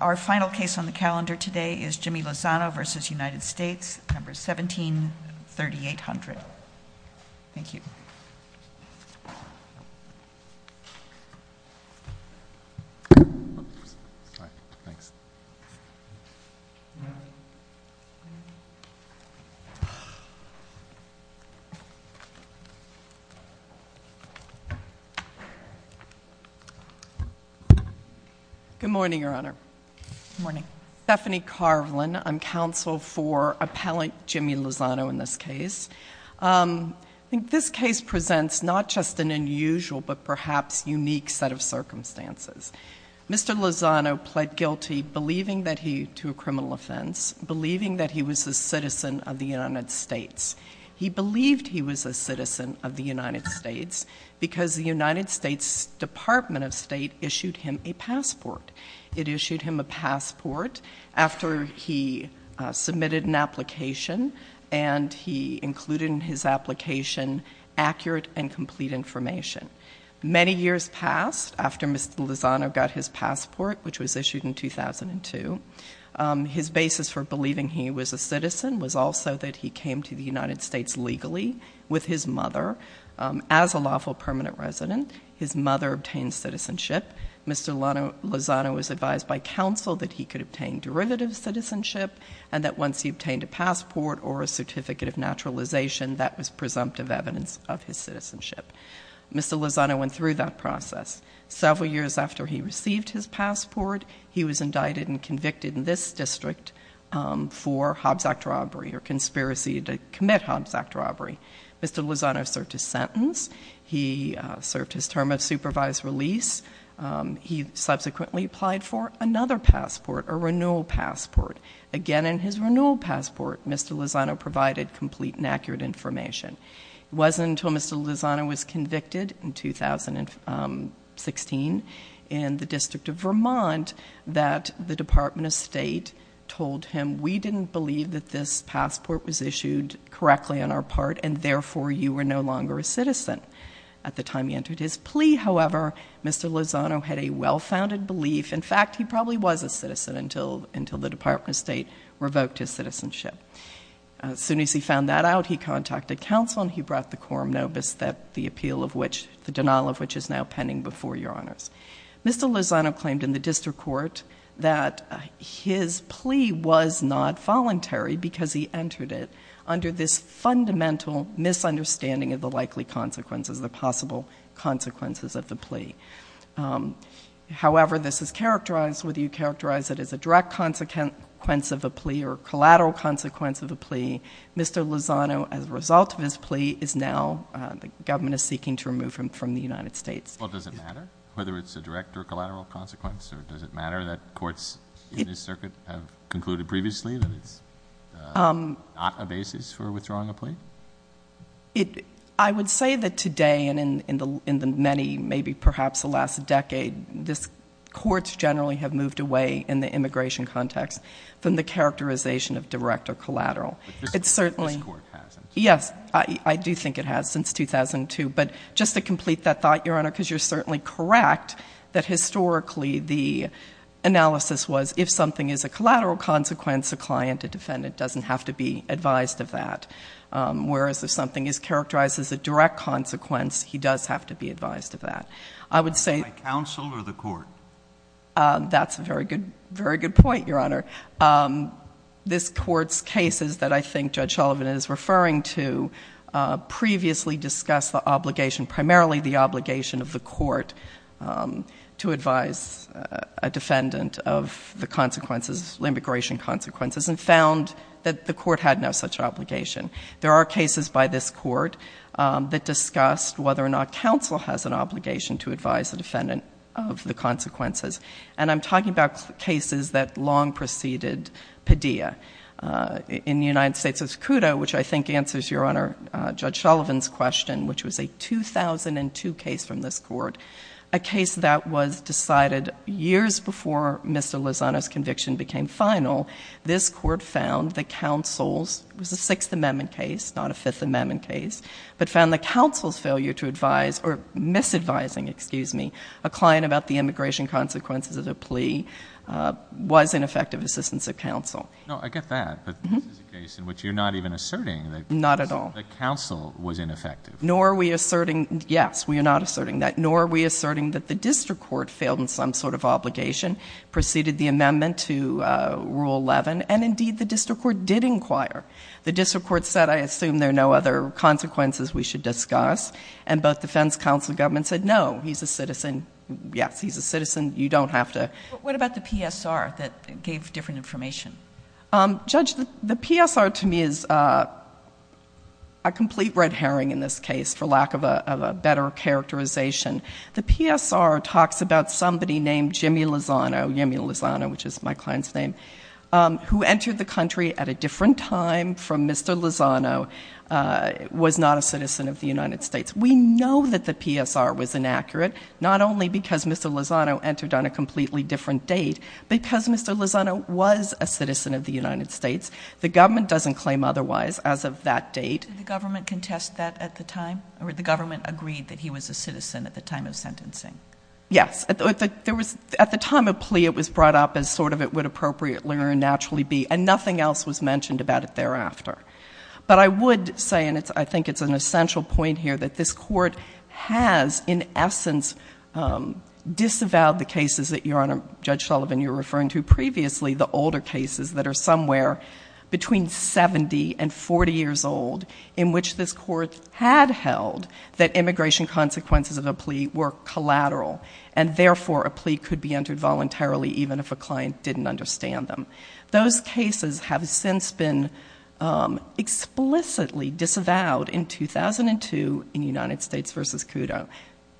Our final case on the calendar today is Jimmy Lozano v. United States, number 173800. Thank you. Good morning, Your Honor. Good morning. I'm Stephanie Carlin. I'm counsel for appellant Jimmy Lozano in this case. I think this case presents not just an unusual but perhaps unique set of circumstances. Mr. Lozano pled guilty believing that he, to a criminal offense, believing that he was a citizen of the United States. He believed he was a citizen of the United States because the United States Department of State issued him a passport. It issued him a passport after he submitted an application and he included in his application accurate and complete information. Many years passed after Mr. Lozano got his passport, which was issued in 2002. His basis for believing he was a citizen was also that he came to the United States legally with his mother as a lawful permanent resident. His mother obtained citizenship. Mr. Lozano was advised by counsel that he could obtain derivative citizenship and that once he obtained a passport or a certificate of naturalization, that was presumptive evidence of his citizenship. Mr. Lozano went through that process. Several years after he received his passport, he was indicted and convicted in this district for Hobbs Act robbery or conspiracy to commit Hobbs Act robbery. Mr. Lozano served his sentence. He served his term of supervised release. He subsequently applied for another passport, a renewal passport. Again, in his renewal passport, Mr. Lozano provided complete and accurate information. It wasn't until Mr. Lozano was convicted in 2016 in the District of Vermont that the Department of State told him, we didn't believe that this passport was issued correctly on our part, and therefore you were no longer a citizen. At the time he entered his plea, however, Mr. Lozano had a well-founded belief. In fact, he probably was a citizen until the Department of State revoked his citizenship. As soon as he found that out, he contacted counsel and he brought the quorum nobis, the appeal of which, the denial of which is now pending before your honors. Mr. Lozano claimed in the district court that his plea was not voluntary because he entered it under this fundamental misunderstanding of the likely consequences, the possible consequences of the plea. However, this is characterized, whether you characterize it as a direct consequence of a plea or collateral consequence of a plea, Mr. Lozano, as a result of his plea, is now, the government is seeking to remove him from the United States. Well, does it matter whether it's a direct or collateral consequence? Or does it matter that courts in this circuit have concluded previously that it's not a basis for withdrawing a plea? I would say that today and in the many, maybe perhaps the last decade, courts generally have moved away in the immigration context from the characterization of direct or collateral. But this court hasn't. Yes, I do think it has since 2002. But just to complete that thought, Your Honor, because you're certainly correct that historically the analysis was if something is a collateral consequence, a client, a defendant doesn't have to be advised of that. Whereas if something is characterized as a direct consequence, he does have to be advised of that. I would say- By counsel or the court? That's a very good point, Your Honor. This court's cases that I think Judge Sullivan is referring to previously discuss the obligation, primarily the obligation of the court to advise a defendant of the consequences, immigration consequences, and found that the court had no such obligation. There are cases by this court that discussed whether or not counsel has an obligation to advise a defendant of the consequences. And I'm talking about cases that long preceded Padilla. In the United States, it's Cudo, which I think answers Your Honor, Judge Sullivan's question, which was a 2002 case from this court, a case that was decided years before Mr. Lozano's conviction became final. This court found that counsel's-it was a Sixth Amendment case, not a Fifth Amendment case- but found that counsel's failure to advise-or misadvising, excuse me, a client about the immigration consequences of the plea was ineffective assistance of counsel. No, I get that, but this is a case in which you're not even asserting that- Not at all. That counsel was ineffective. Nor are we asserting-yes, we are not asserting that. Nor are we asserting that the district court failed in some sort of obligation, preceded the amendment to Rule 11, and, indeed, the district court did inquire. The district court said, I assume there are no other consequences we should discuss, and both defense counsel and government said, no, he's a citizen. Yes, he's a citizen. You don't have to- But what about the PSR that gave different information? Judge, the PSR to me is a complete red herring in this case, for lack of a better characterization. The PSR talks about somebody named Jimmy Lozano-Yemi Lozano, which is my client's name- who entered the country at a different time from Mr. Lozano, was not a citizen of the United States. We know that the PSR was inaccurate, not only because Mr. Lozano entered on a completely different date, because Mr. Lozano was a citizen of the United States. The government doesn't claim otherwise as of that date. Did the government contest that at the time, or did the government agree that he was a citizen at the time of sentencing? Yes. At the time of plea, it was brought up as sort of it would appropriately or naturally be, and nothing else was mentioned about it thereafter. But I would say, and I think it's an essential point here, that this Court has, in essence, disavowed the cases that, Your Honor, Judge Sullivan, you were referring to previously, the older cases that are somewhere between 70 and 40 years old, in which this Court had held that immigration consequences of a plea were collateral, and therefore a plea could be entered voluntarily even if a client didn't understand them. Those cases have since been explicitly disavowed in 2002 in United States v. CUDO.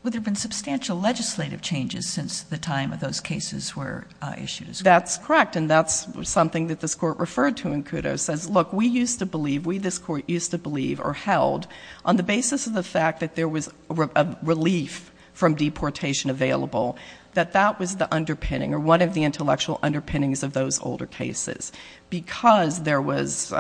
Well, there have been substantial legislative changes since the time of those cases were issued. That's correct, and that's something that this Court referred to in CUDO, says, look, we used to believe, we, this Court, used to believe or held, on the basis of the fact that there was relief from deportation available, that that was the underpinning or one of the intellectual underpinnings of those older cases. Because there was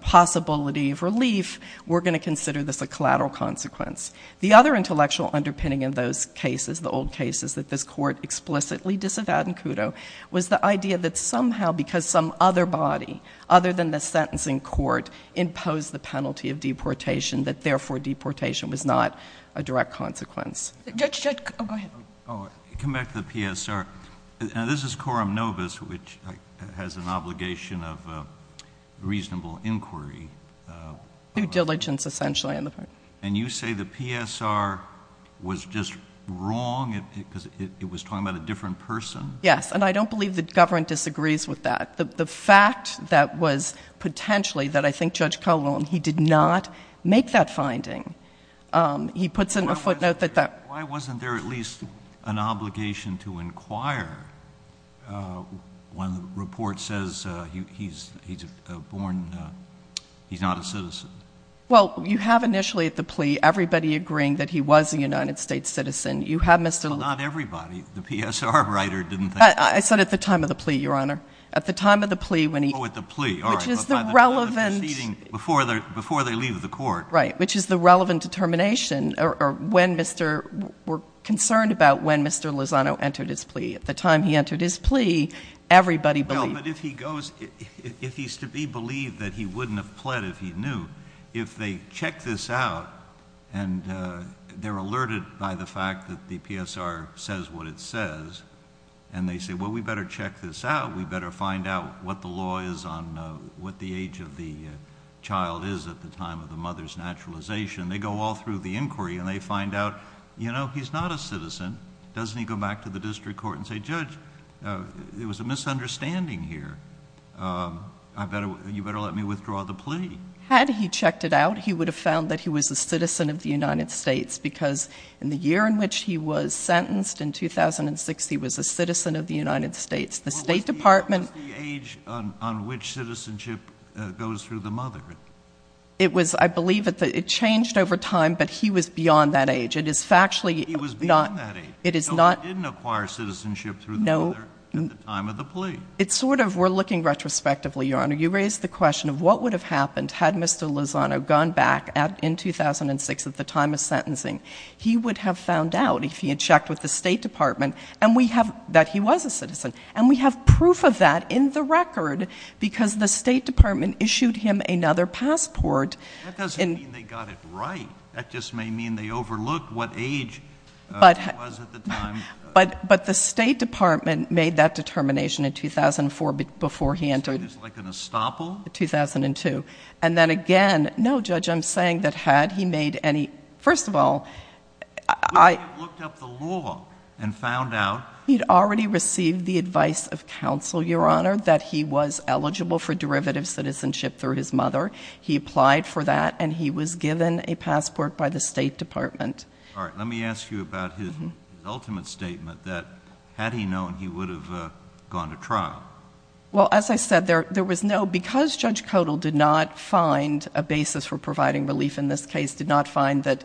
possibility of relief, we're going to consider this a collateral consequence. The other intellectual underpinning in those cases, the old cases that this Court explicitly disavowed in CUDO, was the idea that somehow, because some other body, other than the sentencing court, imposed the penalty of deportation, that therefore deportation was not a direct consequence. Judge, oh, go ahead. Come back to the PSR. Now, this is quorum novus, which has an obligation of reasonable inquiry. Due diligence, essentially. And you say the PSR was just wrong because it was talking about a different person? Yes. And I don't believe the government disagrees with that. The fact that was potentially, that I think Judge Calhoun, he did not make that finding. He puts in a footnote that that. Why wasn't there at least an obligation to inquire when the report says he's a born, he's not a citizen? Well, you have initially at the plea everybody agreeing that he was a United States citizen. You have Mr. Lee. Not everybody. The PSR writer didn't think. I said at the time of the plea, Your Honor. At the time of the plea when he. Oh, at the plea. Which is the relevant. But by the time of the proceeding, before they leave the court. Right. Which is the relevant determination, or when Mr. We're concerned about when Mr. Lozano entered his plea. At the time he entered his plea, everybody believed. Well, but if he goes, if he's to be believed that he wouldn't have pled if he knew, if they check this out, and they're alerted by the fact that the PSR says what it says, and they say, well, we better check this out. We better find out what the law is on what the age of the child is at the time of the mother's naturalization. They go all through the inquiry, and they find out, you know, he's not a citizen. Doesn't he go back to the district court and say, Judge, there was a misunderstanding here. You better let me withdraw the plea. Had he checked it out, he would have found that he was a citizen of the United States, because in the year in which he was sentenced, in 2006, he was a citizen of the United States. The State Department. What was the age on which citizenship goes through the mother? It was, I believe it changed over time, but he was beyond that age. It is factually not. He was beyond that age. It is not. So he didn't acquire citizenship through the mother at the time of the plea. No. It's sort of, we're looking retrospectively, Your Honor. You raised the question of what would have happened had Mr. Lozano gone back in 2006 at the time of sentencing. He would have found out, if he had checked with the State Department, that he was a citizen. And we have proof of that in the record, because the State Department issued him another passport. That doesn't mean they got it right. That just may mean they overlooked what age he was at the time. But the State Department made that determination in 2004 before he entered. Is this like an estoppel? 2002. And then again, no, Judge, I'm saying that had he made any, first of all, I... Would he have looked up the law and found out... He'd already received the advice of counsel, Your Honor, that he was eligible for derivative citizenship through his mother. He applied for that, and he was given a passport by the State Department. All right. Let me ask you about his ultimate statement, that had he known, he would have gone to trial. Well, as I said, there was no... Because Judge Kodal did not find a basis for providing relief in this case, did not find that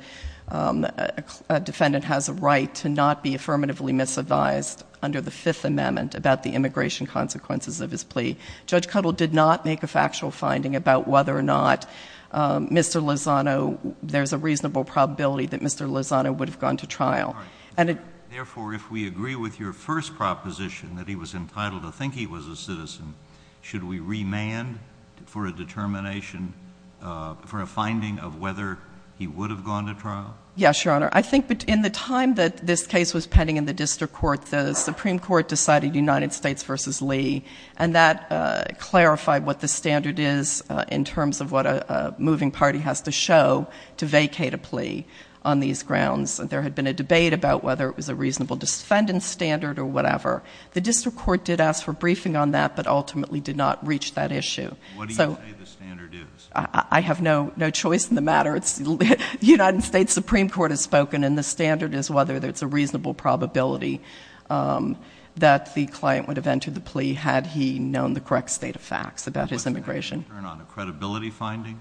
a defendant has a right to not be affirmatively misadvised under the Fifth Amendment about the immigration consequences of his plea, Judge Kodal did not make a factual finding about whether or not Mr. Lozano... There's a reasonable probability that Mr. Lozano would have gone to trial. All right. Therefore, if we agree with your first proposition, that he was entitled to think he was a citizen, should we remand for a determination, for a finding of whether he would have gone to trial? Yes, Your Honor. I think in the time that this case was pending in the district court, the Supreme Court decided United States v. Lee, and that clarified what the standard is in terms of what a moving party has to show to vacate a plea on these grounds. There had been a debate about whether it was a reasonable defendant standard or whatever. The district court did ask for a briefing on that, but ultimately did not reach that issue. What do you say the standard is? I have no choice in the matter. The United States Supreme Court has spoken, and the standard is whether there's a reasonable probability that the client would have entered the plea had he known the correct state of facts about his immigration. Was there any concern on a credibility finding?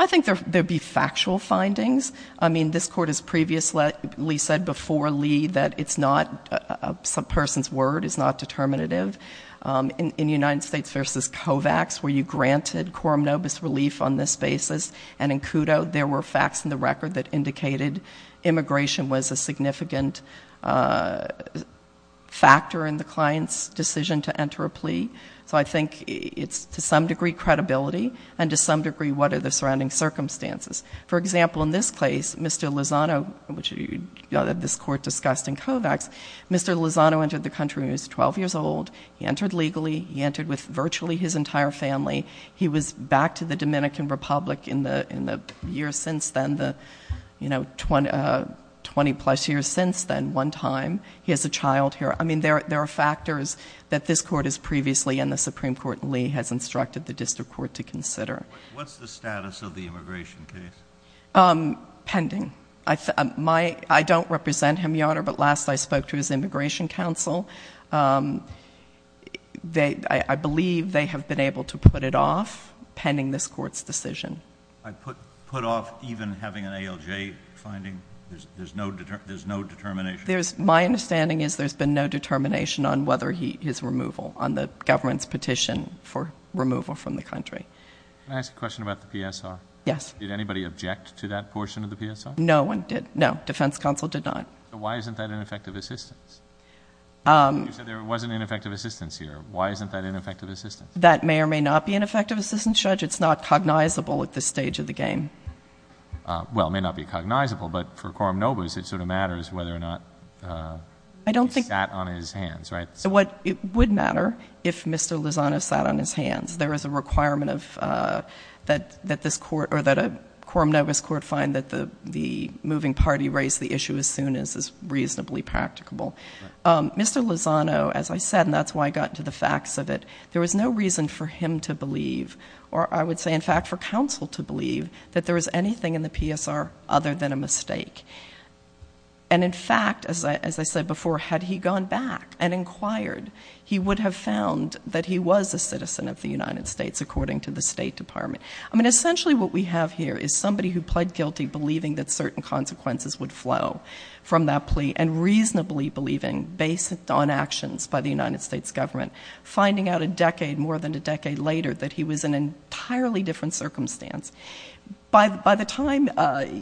I think there would be factual findings. I mean, this court has previously said before Lee that a person's word is not determinative. In United States v. Kovacs, were you granted coram nobis relief on this basis? And in CUDO, there were facts in the record that indicated immigration was a significant factor in the client's decision to enter a plea. So I think it's, to some degree, credibility, and to some degree, what are the surrounding circumstances? For example, in this case, Mr. Lozano, which this court discussed in Kovacs, Mr. Lozano entered the country when he was 12 years old. He entered legally. He entered with virtually his entire family. He was back to the Dominican Republic in the years since then, the, you know, 20-plus years since then, one time. He has a child here. I mean, there are factors that this court has previously and the Supreme Court, Lee, has instructed the district court to consider. What's the status of the immigration case? Pending. I don't represent him, Your Honor, but last I spoke to his immigration counsel. I believe they have been able to put it off pending this court's decision. Put off even having an ALJ finding? There's no determination? My understanding is there's been no determination on whether his removal, on the government's petition for removal from the country. Can I ask a question about the PSR? Yes. Did anybody object to that portion of the PSR? No one did. No, defense counsel did not. So why isn't that ineffective assistance? You said there wasn't ineffective assistance here. Why isn't that ineffective assistance? That may or may not be ineffective assistance, Judge. It's not cognizable at this stage of the game. Well, it may not be cognizable, but for Quorum Novus, it sort of matters whether or not he sat on his hands, right? It would matter if Mr. Lozano sat on his hands. There is a requirement that a Quorum Novus court find that the moving party raise the issue as soon as is reasonably practicable. Mr. Lozano, as I said, and that's why I got into the facts of it, there was no reason for him to believe, or I would say, in fact, for counsel to believe that there was anything in the PSR other than a mistake. And, in fact, as I said before, had he gone back and inquired, he would have found that he was a citizen of the United States, according to the State Department. I mean, essentially what we have here is somebody who pled guilty, believing that certain consequences would flow from that plea, and reasonably believing, based on actions by the United States government, finding out a decade, more than a decade later, that he was in an entirely different circumstance. By the time,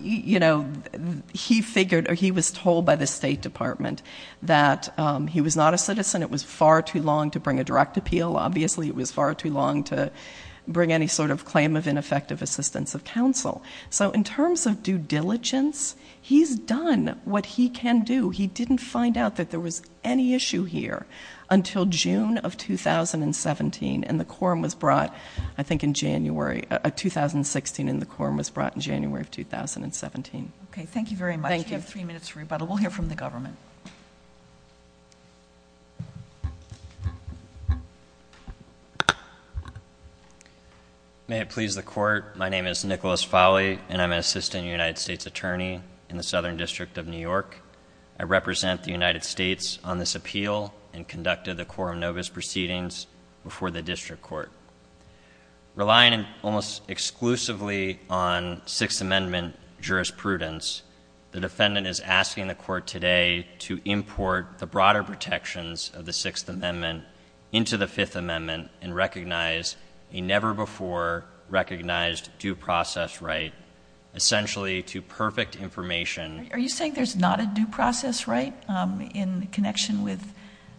you know, he figured, or he was told by the State Department that he was not a citizen, it was far too long to bring a direct appeal. Obviously, it was far too long to bring any sort of claim of ineffective assistance of counsel. So, in terms of due diligence, he's done what he can do. He didn't find out that there was any issue here until June of 2017, and the quorum was brought, I think, in January, 2016, and the quorum was brought in January of 2017. Okay, thank you very much. Thank you. We have three minutes for rebuttal. We'll hear from the government. May it please the Court. My name is Nicholas Fowley, and I'm an assistant United States attorney in the Southern District of New York. I represent the United States on this appeal, and conducted the quorum notice proceedings before the district court. Relying almost exclusively on Sixth Amendment jurisprudence, the defendant is asking the court today to import the broader protections of the Sixth Amendment into the Fifth Amendment and recognize a never-before-recognized due process right essentially to perfect information. Are you saying there's not a due process right in connection with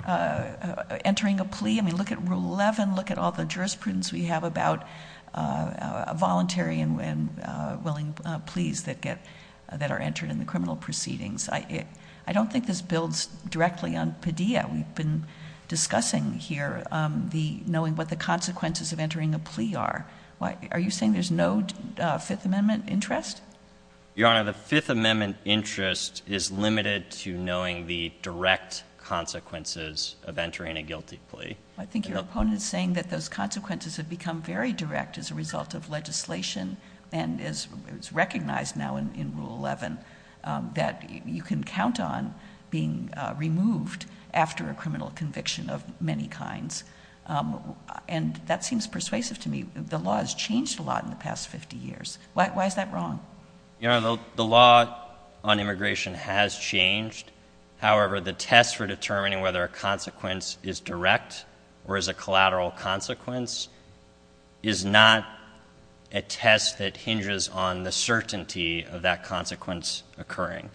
entering a plea? I mean, look at Rule 11. Look at all the jurisprudence we have about voluntary and willing pleas that are entered in the criminal proceedings. We've been discussing here knowing what the consequences of entering a plea are. Are you saying there's no Fifth Amendment interest? Your Honor, the Fifth Amendment interest is limited to knowing the direct consequences of entering a guilty plea. I think your opponent is saying that those consequences have become very direct as a result of legislation, and it's recognized now in Rule 11 that you can count on being removed after a criminal conviction of many kinds. And that seems persuasive to me. The law has changed a lot in the past 50 years. Why is that wrong? Your Honor, the law on immigration has changed. However, the test for determining whether a consequence is direct or is a collateral consequence is not a test that hinges on the certainty of that consequence occurring,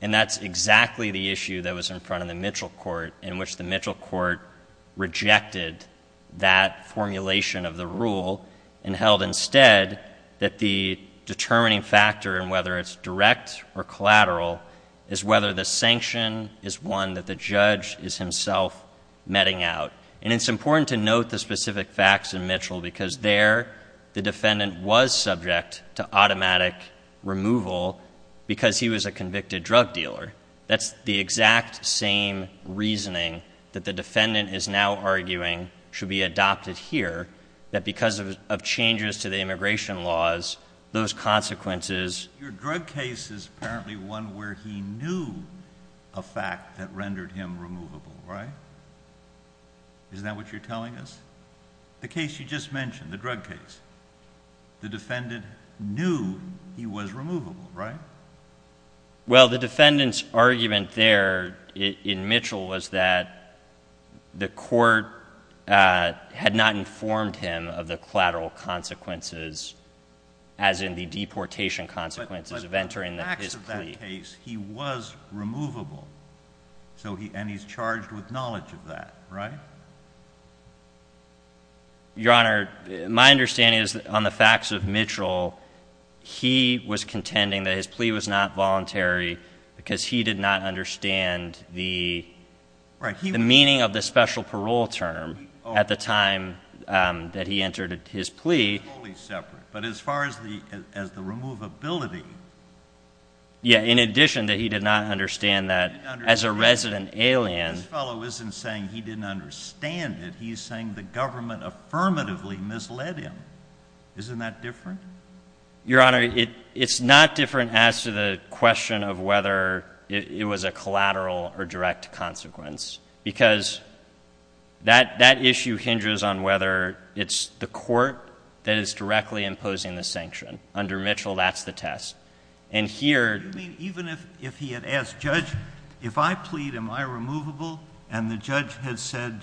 and that's exactly the issue that was in front of the Mitchell Court in which the Mitchell Court rejected that formulation of the rule and held instead that the determining factor in whether it's direct or collateral is whether the sanction is one that the judge is himself meting out. And it's important to note the specific facts in Mitchell because there the defendant was subject to automatic removal because he was a convicted drug dealer. That's the exact same reasoning that the defendant is now arguing should be adopted here, that because of changes to the immigration laws, those consequences— He knew a fact that rendered him removable, right? Isn't that what you're telling us? The case you just mentioned, the drug case, the defendant knew he was removable, right? Well, the defendant's argument there in Mitchell was that the court had not informed him of the collateral consequences as in the deportation consequences of entering his plea. In that case, he was removable, and he's charged with knowledge of that, right? Your Honor, my understanding is that on the facts of Mitchell, he was contending that his plea was not voluntary because he did not understand the meaning of the special parole term at the time that he entered his plea. But as far as the removability— Yeah, in addition that he did not understand that as a resident alien— This fellow isn't saying he didn't understand it. He's saying the government affirmatively misled him. Isn't that different? Your Honor, it's not different as to the question of whether it was a collateral or direct consequence because that issue hinders on whether it's the court that is directly imposing the sanction. Under Mitchell, that's the test. And here— You mean even if he had asked, Judge, if I plead, am I removable? And the judge had said,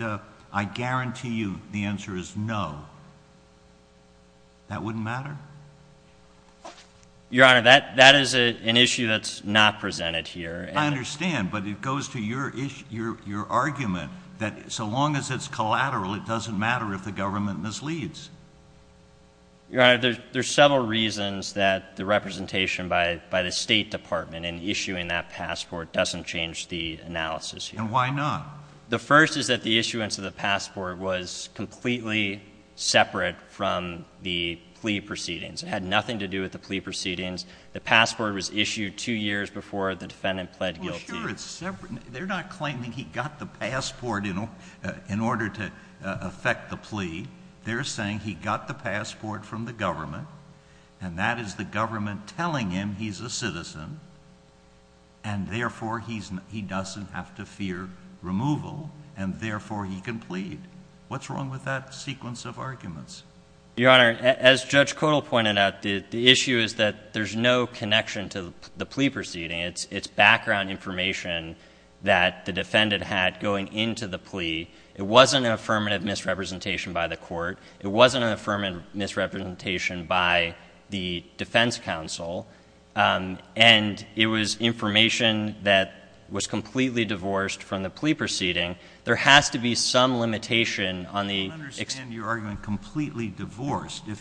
I guarantee you the answer is no, that wouldn't matter? Your Honor, that is an issue that's not presented here. I understand, but it goes to your argument that so long as it's collateral, it doesn't matter if the government misleads. Your Honor, there's several reasons that the representation by the State Department in issuing that passport doesn't change the analysis here. And why not? The first is that the issuance of the passport was completely separate from the plea proceedings. It had nothing to do with the plea proceedings. The passport was issued two years before the defendant pled guilty. Well, sure, it's separate. They're not claiming he got the passport in order to effect the plea. They're saying he got the passport from the government, and that is the government telling him he's a citizen, and therefore he doesn't have to fear removal, and therefore he can plead. What's wrong with that sequence of arguments? Your Honor, as Judge Codall pointed out, the issue is that there's no connection to the plea proceeding. It's background information that the defendant had going into the plea. It wasn't an affirmative misrepresentation by the court. It wasn't an affirmative misrepresentation by the defense counsel, and it was information that was completely divorced from the plea proceeding. If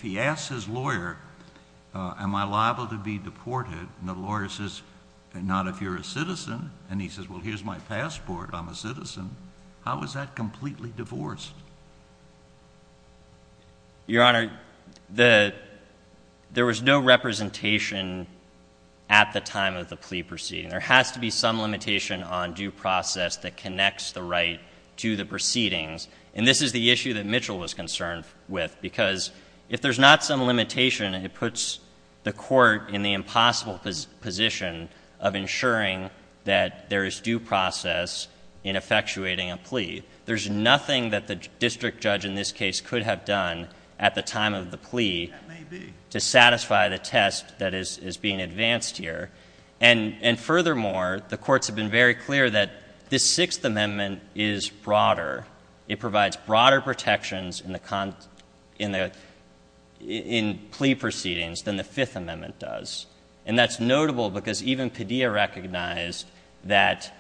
he asks his lawyer, am I liable to be deported, and the lawyer says, not if you're a citizen, and he says, well, here's my passport, I'm a citizen, how is that completely divorced? Your Honor, there was no representation at the time of the plea proceeding. There has to be some limitation on due process that connects the right to the proceedings, and this is the issue that Mitchell was concerned with, because if there's not some limitation, it puts the court in the impossible position of ensuring that there is due process in effectuating a plea. There's nothing that the district judge in this case could have done at the time of the plea to satisfy the test that is being advanced here, and furthermore, the courts have been very clear that this Sixth Amendment is broader. It provides broader protections in plea proceedings than the Fifth Amendment does, and that's notable because even Padilla recognized that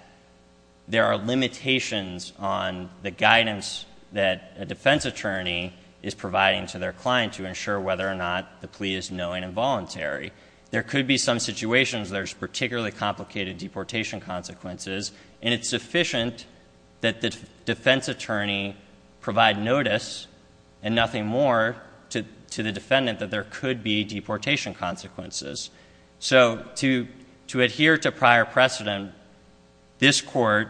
there are limitations on the guidance that a defense attorney is providing to their client to ensure whether or not the plea is knowing and voluntary. There could be some situations where there's particularly complicated deportation consequences, and it's sufficient that the defense attorney provide notice and nothing more to the defendant that there could be deportation consequences. So to adhere to prior precedent, this court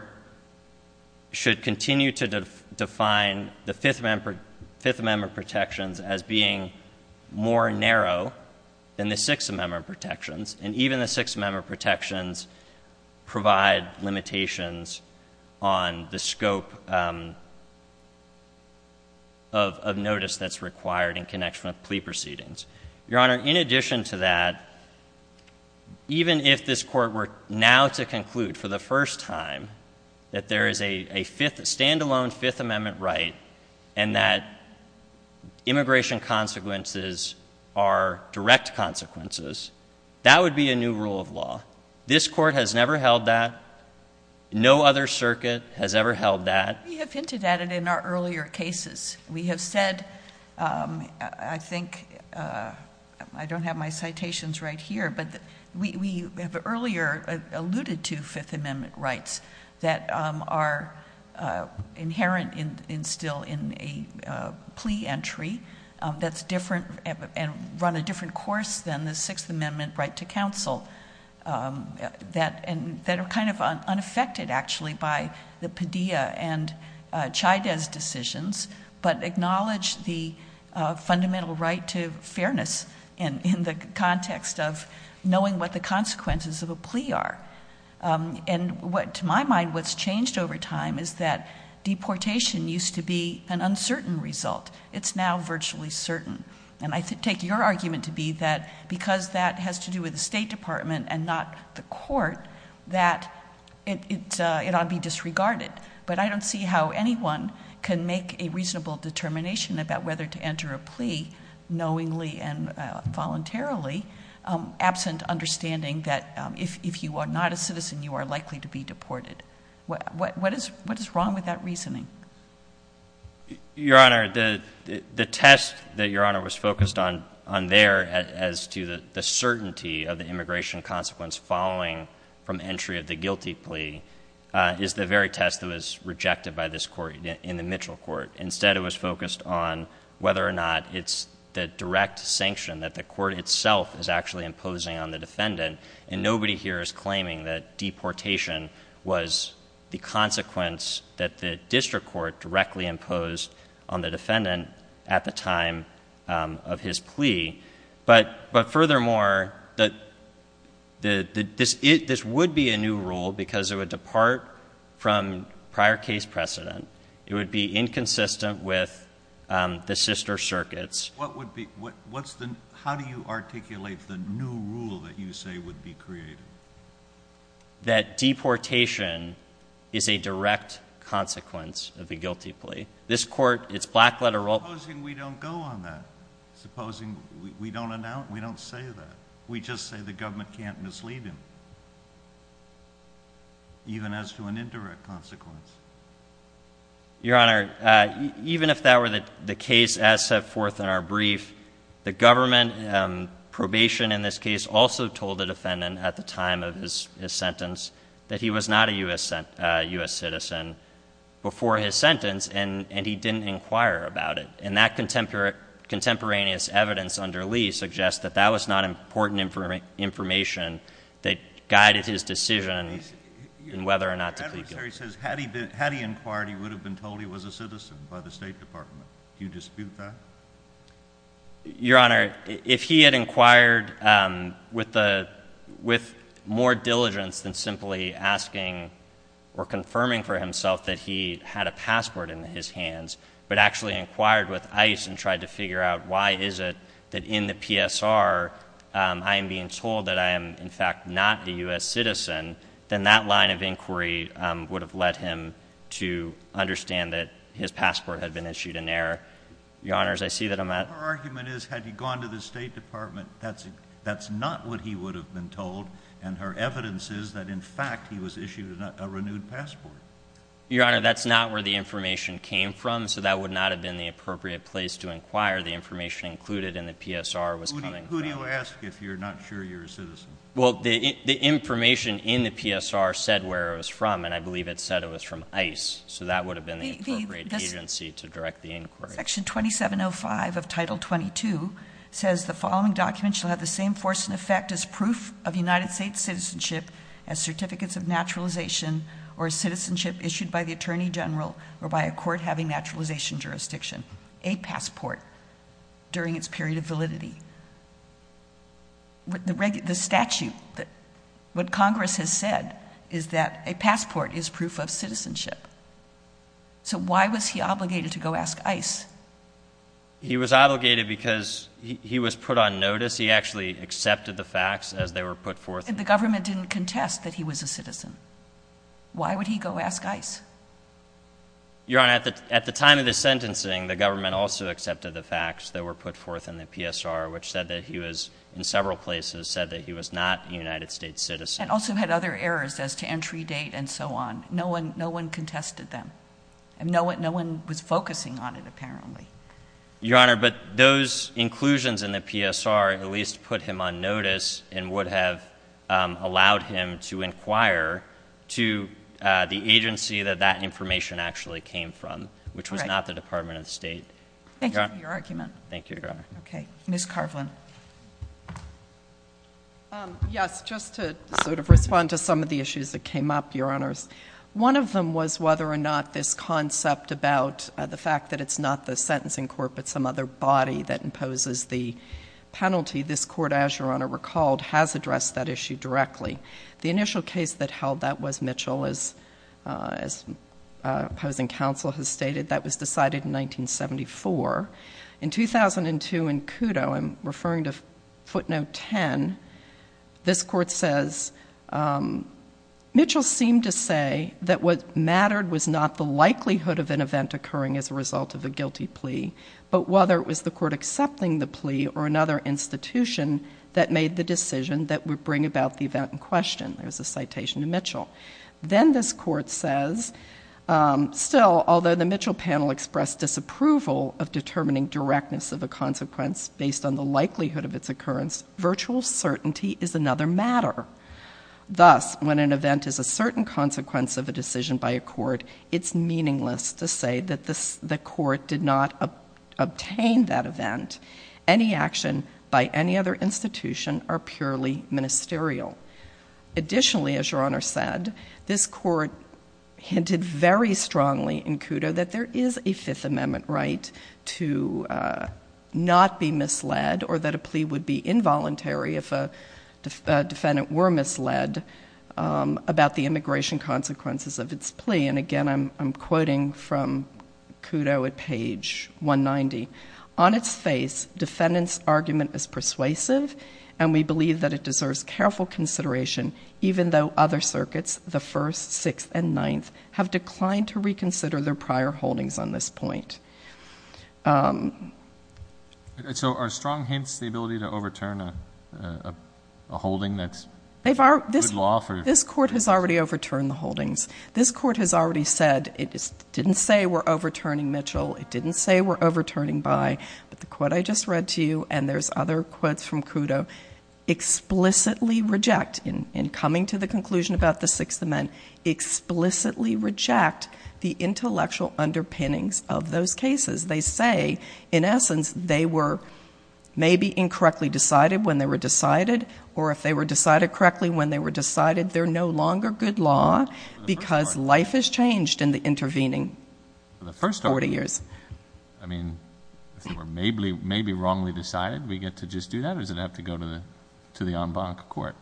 should continue to define the Fifth Amendment protections as being more narrow than the Sixth Amendment protections, and even the Sixth Amendment protections provide limitations on the scope of notice that's required in connection with plea proceedings. Your Honor, in addition to that, even if this court were now to conclude for the first time that there is a stand-alone Fifth Amendment right and that immigration consequences are direct consequences, that would be a new rule of law. This court has never held that. No other circuit has ever held that. We have hinted at it in our earlier cases. We have said, I think, I don't have my citations right here, but we have earlier alluded to Fifth Amendment rights that are inherent still in a plea entry that's different and run a different course than the Sixth Amendment right to counsel that are kind of unaffected, actually, by the Padilla and Chaidez decisions, but acknowledge the fundamental right to fairness in the context of knowing what the consequences of a plea are. And to my mind, what's changed over time is that deportation used to be an uncertain result. It's now virtually certain. And I take your argument to be that because that has to do with the State Department and not the court, that it ought to be disregarded. But I don't see how anyone can make a reasonable determination about whether to enter a plea knowingly and voluntarily, absent understanding that if you are not a citizen, you are likely to be deported. What is wrong with that reasoning? Your Honor, the test that Your Honor was focused on there as to the certainty of the immigration consequence following from entry of the guilty plea is the very test that was rejected by this court in the Mitchell court. Instead, it was focused on whether or not it's the direct sanction that the court itself is actually imposing on the defendant, and nobody here is claiming that deportation was the consequence that the district court directly imposed on the defendant at the time of his plea. But furthermore, this would be a new rule because it would depart from prior case precedent. It would be inconsistent with the sister circuits. How do you articulate the new rule that you say would be created? That deportation is a direct consequence of a guilty plea. Supposing we don't go on that, supposing we don't announce, we don't say that. We just say the government can't mislead him, even as to an indirect consequence. Your Honor, even if that were the case as set forth in our brief, the government probation in this case also told the defendant at the time of his sentence that he was not a U.S. citizen before his sentence, and he didn't inquire about it. And that contemporaneous evidence under Lee suggests that that was not important information that guided his decision in whether or not to plead guilty. So he says had he inquired, he would have been told he was a citizen by the State Department. Do you dispute that? Your Honor, if he had inquired with more diligence than simply asking or confirming for himself that he had a passport in his hands, but actually inquired with ice and tried to figure out why is it that in the PSR I am being told that I am, in fact, not a U.S. citizen, then that line of inquiry would have led him to understand that his passport had been issued in error. Your Honor, as I see that I'm at— Her argument is had he gone to the State Department, that's not what he would have been told, and her evidence is that, in fact, he was issued a renewed passport. Your Honor, that's not where the information came from, so that would not have been the appropriate place to inquire. The information included in the PSR was coming from— Well, the information in the PSR said where it was from, and I believe it said it was from ICE, so that would have been the appropriate agency to direct the inquiry. Section 2705 of Title 22 says the following document shall have the same force and effect as proof of United States citizenship as certificates of naturalization or citizenship issued by the Attorney General or by a court having naturalization jurisdiction, a passport, during its period of validity. The statute, what Congress has said is that a passport is proof of citizenship, so why was he obligated to go ask ICE? He was obligated because he was put on notice. He actually accepted the facts as they were put forth. And the government didn't contest that he was a citizen. Why would he go ask ICE? Your Honor, at the time of the sentencing, the government also accepted the facts that were put forth in the PSR, which said that he was, in several places, said that he was not a United States citizen. And also had other errors as to entry date and so on. No one contested them. No one was focusing on it, apparently. Your Honor, but those inclusions in the PSR at least put him on notice and would have allowed him to inquire to the agency that that information actually came from, which was not the Department of State. Thank you for your argument. Thank you, Your Honor. Okay. Ms. Carvlin. Yes, just to sort of respond to some of the issues that came up, Your Honors. One of them was whether or not this concept about the fact that it's not the sentencing court but some other body that imposes the penalty. This court, as Your Honor recalled, has addressed that issue directly. The initial case that held that was Mitchell. As opposing counsel has stated, that was decided in 1974. In 2002 in Kudo, I'm referring to footnote 10, this court says, Mitchell seemed to say that what mattered was not the likelihood of an event occurring as a result of a guilty plea, but whether it was the court accepting the plea or another institution that made the decision that would bring about the event in question. There's a citation to Mitchell. Then this court says, still, although the Mitchell panel expressed disapproval of determining directness of a consequence based on the likelihood of its occurrence, virtual certainty is another matter. Thus, when an event is a certain consequence of a decision by a court, it's meaningless to say that the court did not obtain that event. Any action by any other institution are purely ministerial. Additionally, as Your Honor said, this court hinted very strongly in Kudo that there is a Fifth Amendment right to not be misled or that a plea would be involuntary if a defendant were misled about the immigration consequences of its plea. And again, I'm quoting from Kudo at page 190. On its face, defendant's argument is persuasive, and we believe that it deserves careful consideration, even though other circuits, the First, Sixth, and Ninth, have declined to reconsider their prior holdings on this point. So are strong hints the ability to overturn a holding that's good law? This court has already overturned the holdings. This court has already said it didn't say we're overturning Mitchell. It didn't say we're overturning Bayh. But the quote I just read to you, and there's other quotes from Kudo, explicitly reject, in coming to the conclusion about the Sixth Amendment, explicitly reject the intellectual underpinnings of those cases. They say, in essence, they were maybe incorrectly decided when they were decided, or if they were decided correctly when they were decided, they're no longer good law because life has changed in the intervening 40 years. I mean, if they were maybe wrongly decided, we get to just do that, or does it have to go to the en banc court?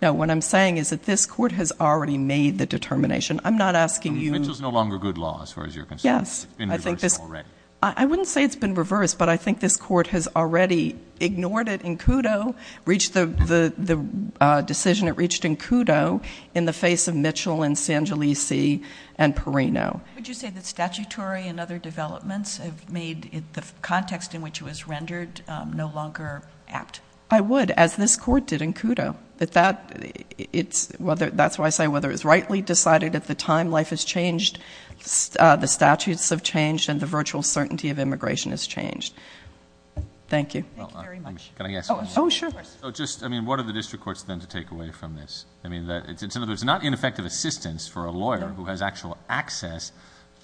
No, what I'm saying is that this court has already made the determination. I'm not asking you to. Mitchell's no longer good law as far as you're concerned. Yes. It's been reversed already. I wouldn't say it's been reversed, but I think this court has already ignored it in Kudo, reached the decision it reached in Kudo in the face of Mitchell and Sangelisi and Perino. Would you say that statutory and other developments have made the context in which it was rendered no longer apt? I would, as this court did in Kudo. That's why I say whether it was rightly decided at the time, life has changed, the statutes have changed, and the virtual certainty of immigration has changed. Thank you. Thank you very much. Can I ask a question? Oh, sure. Just, I mean, what are the district courts then to take away from this? I mean, it's not ineffective assistance for a lawyer who has actual access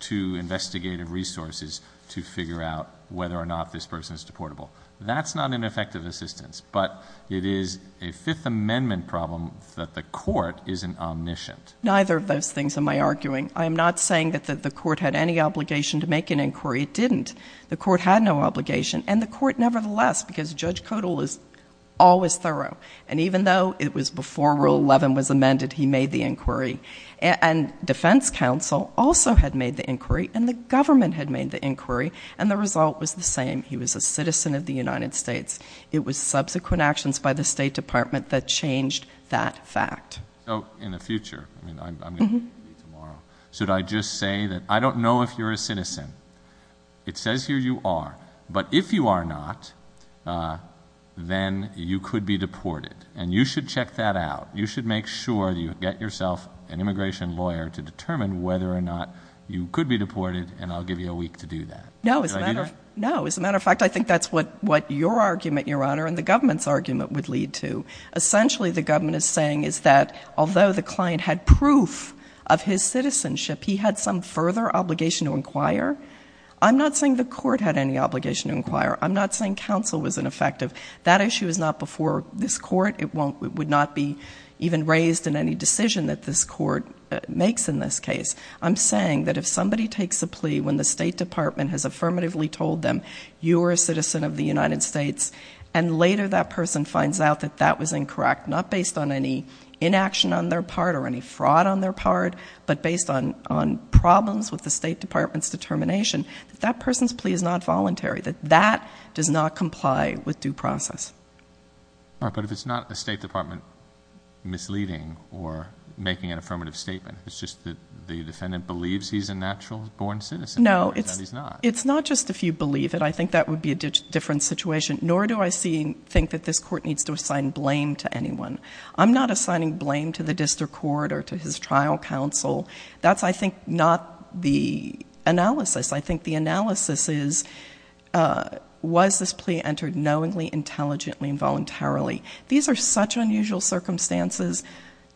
to investigative resources to figure out whether or not this person is deportable. That's not ineffective assistance, but it is a Fifth Amendment problem that the court isn't omniscient. Neither of those things am I arguing. I am not saying that the court had any obligation to make an inquiry. It didn't. The court had no obligation, and the court nevertheless, because Judge Kodal was always thorough, and even though it was before Rule 11 was amended, he made the inquiry. And defense counsel also had made the inquiry, and the government had made the inquiry, and the result was the same. He was a citizen of the United States. It was subsequent actions by the State Department that changed that fact. So, in the future, I mean, I'm going to leave tomorrow, should I just say that I don't know if you're a citizen? It says here you are. But if you are not, then you could be deported, and you should check that out. You should make sure that you get yourself an immigration lawyer to determine whether or not you could be deported, and I'll give you a week to do that. No, as a matter of fact, I think that's what your argument, Your Honor, and the government's argument would lead to. Essentially, the government is saying is that although the client had proof of his citizenship, he had some further obligation to inquire. I'm not saying the court had any obligation to inquire. I'm not saying counsel was ineffective. That issue is not before this court. It would not be even raised in any decision that this court makes in this case. I'm saying that if somebody takes a plea when the State Department has affirmatively told them, you are a citizen of the United States, and later that person finds out that that was incorrect, not based on any inaction on their part or any fraud on their part, but based on problems with the State Department's determination, that that person's plea is not voluntary, that that does not comply with due process. All right, but if it's not the State Department misleading or making an affirmative statement, it's just that the defendant believes he's a natural-born citizen and he's not. It's not just if you believe it. I think that would be a different situation. Nor do I think that this court needs to assign blame to anyone. I'm not assigning blame to the district court or to his trial counsel. That's, I think, not the analysis. I think the analysis is, was this plea entered knowingly, intelligently, and voluntarily? These are such unusual circumstances.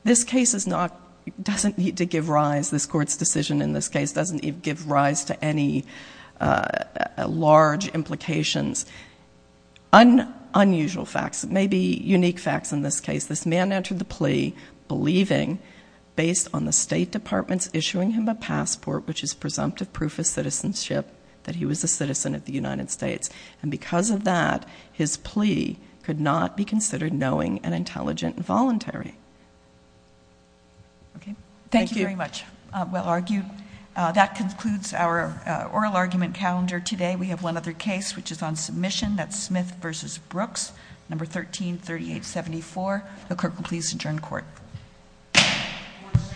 This case doesn't need to give rise. This court's decision in this case doesn't give rise to any large implications. Unusual facts, maybe unique facts in this case. This man entered the plea believing, based on the State Department's issuing him a passport, which is presumptive proof of citizenship, that he was a citizen of the United States. And because of that, his plea could not be considered knowing and intelligent and voluntary. Okay. Thank you very much. Thank you. Well argued. That concludes our oral argument calendar today. We have one other case, which is on submission. That's Smith v. Brooks, No. 133874. The clerk will please adjourn court. Court is adjourned.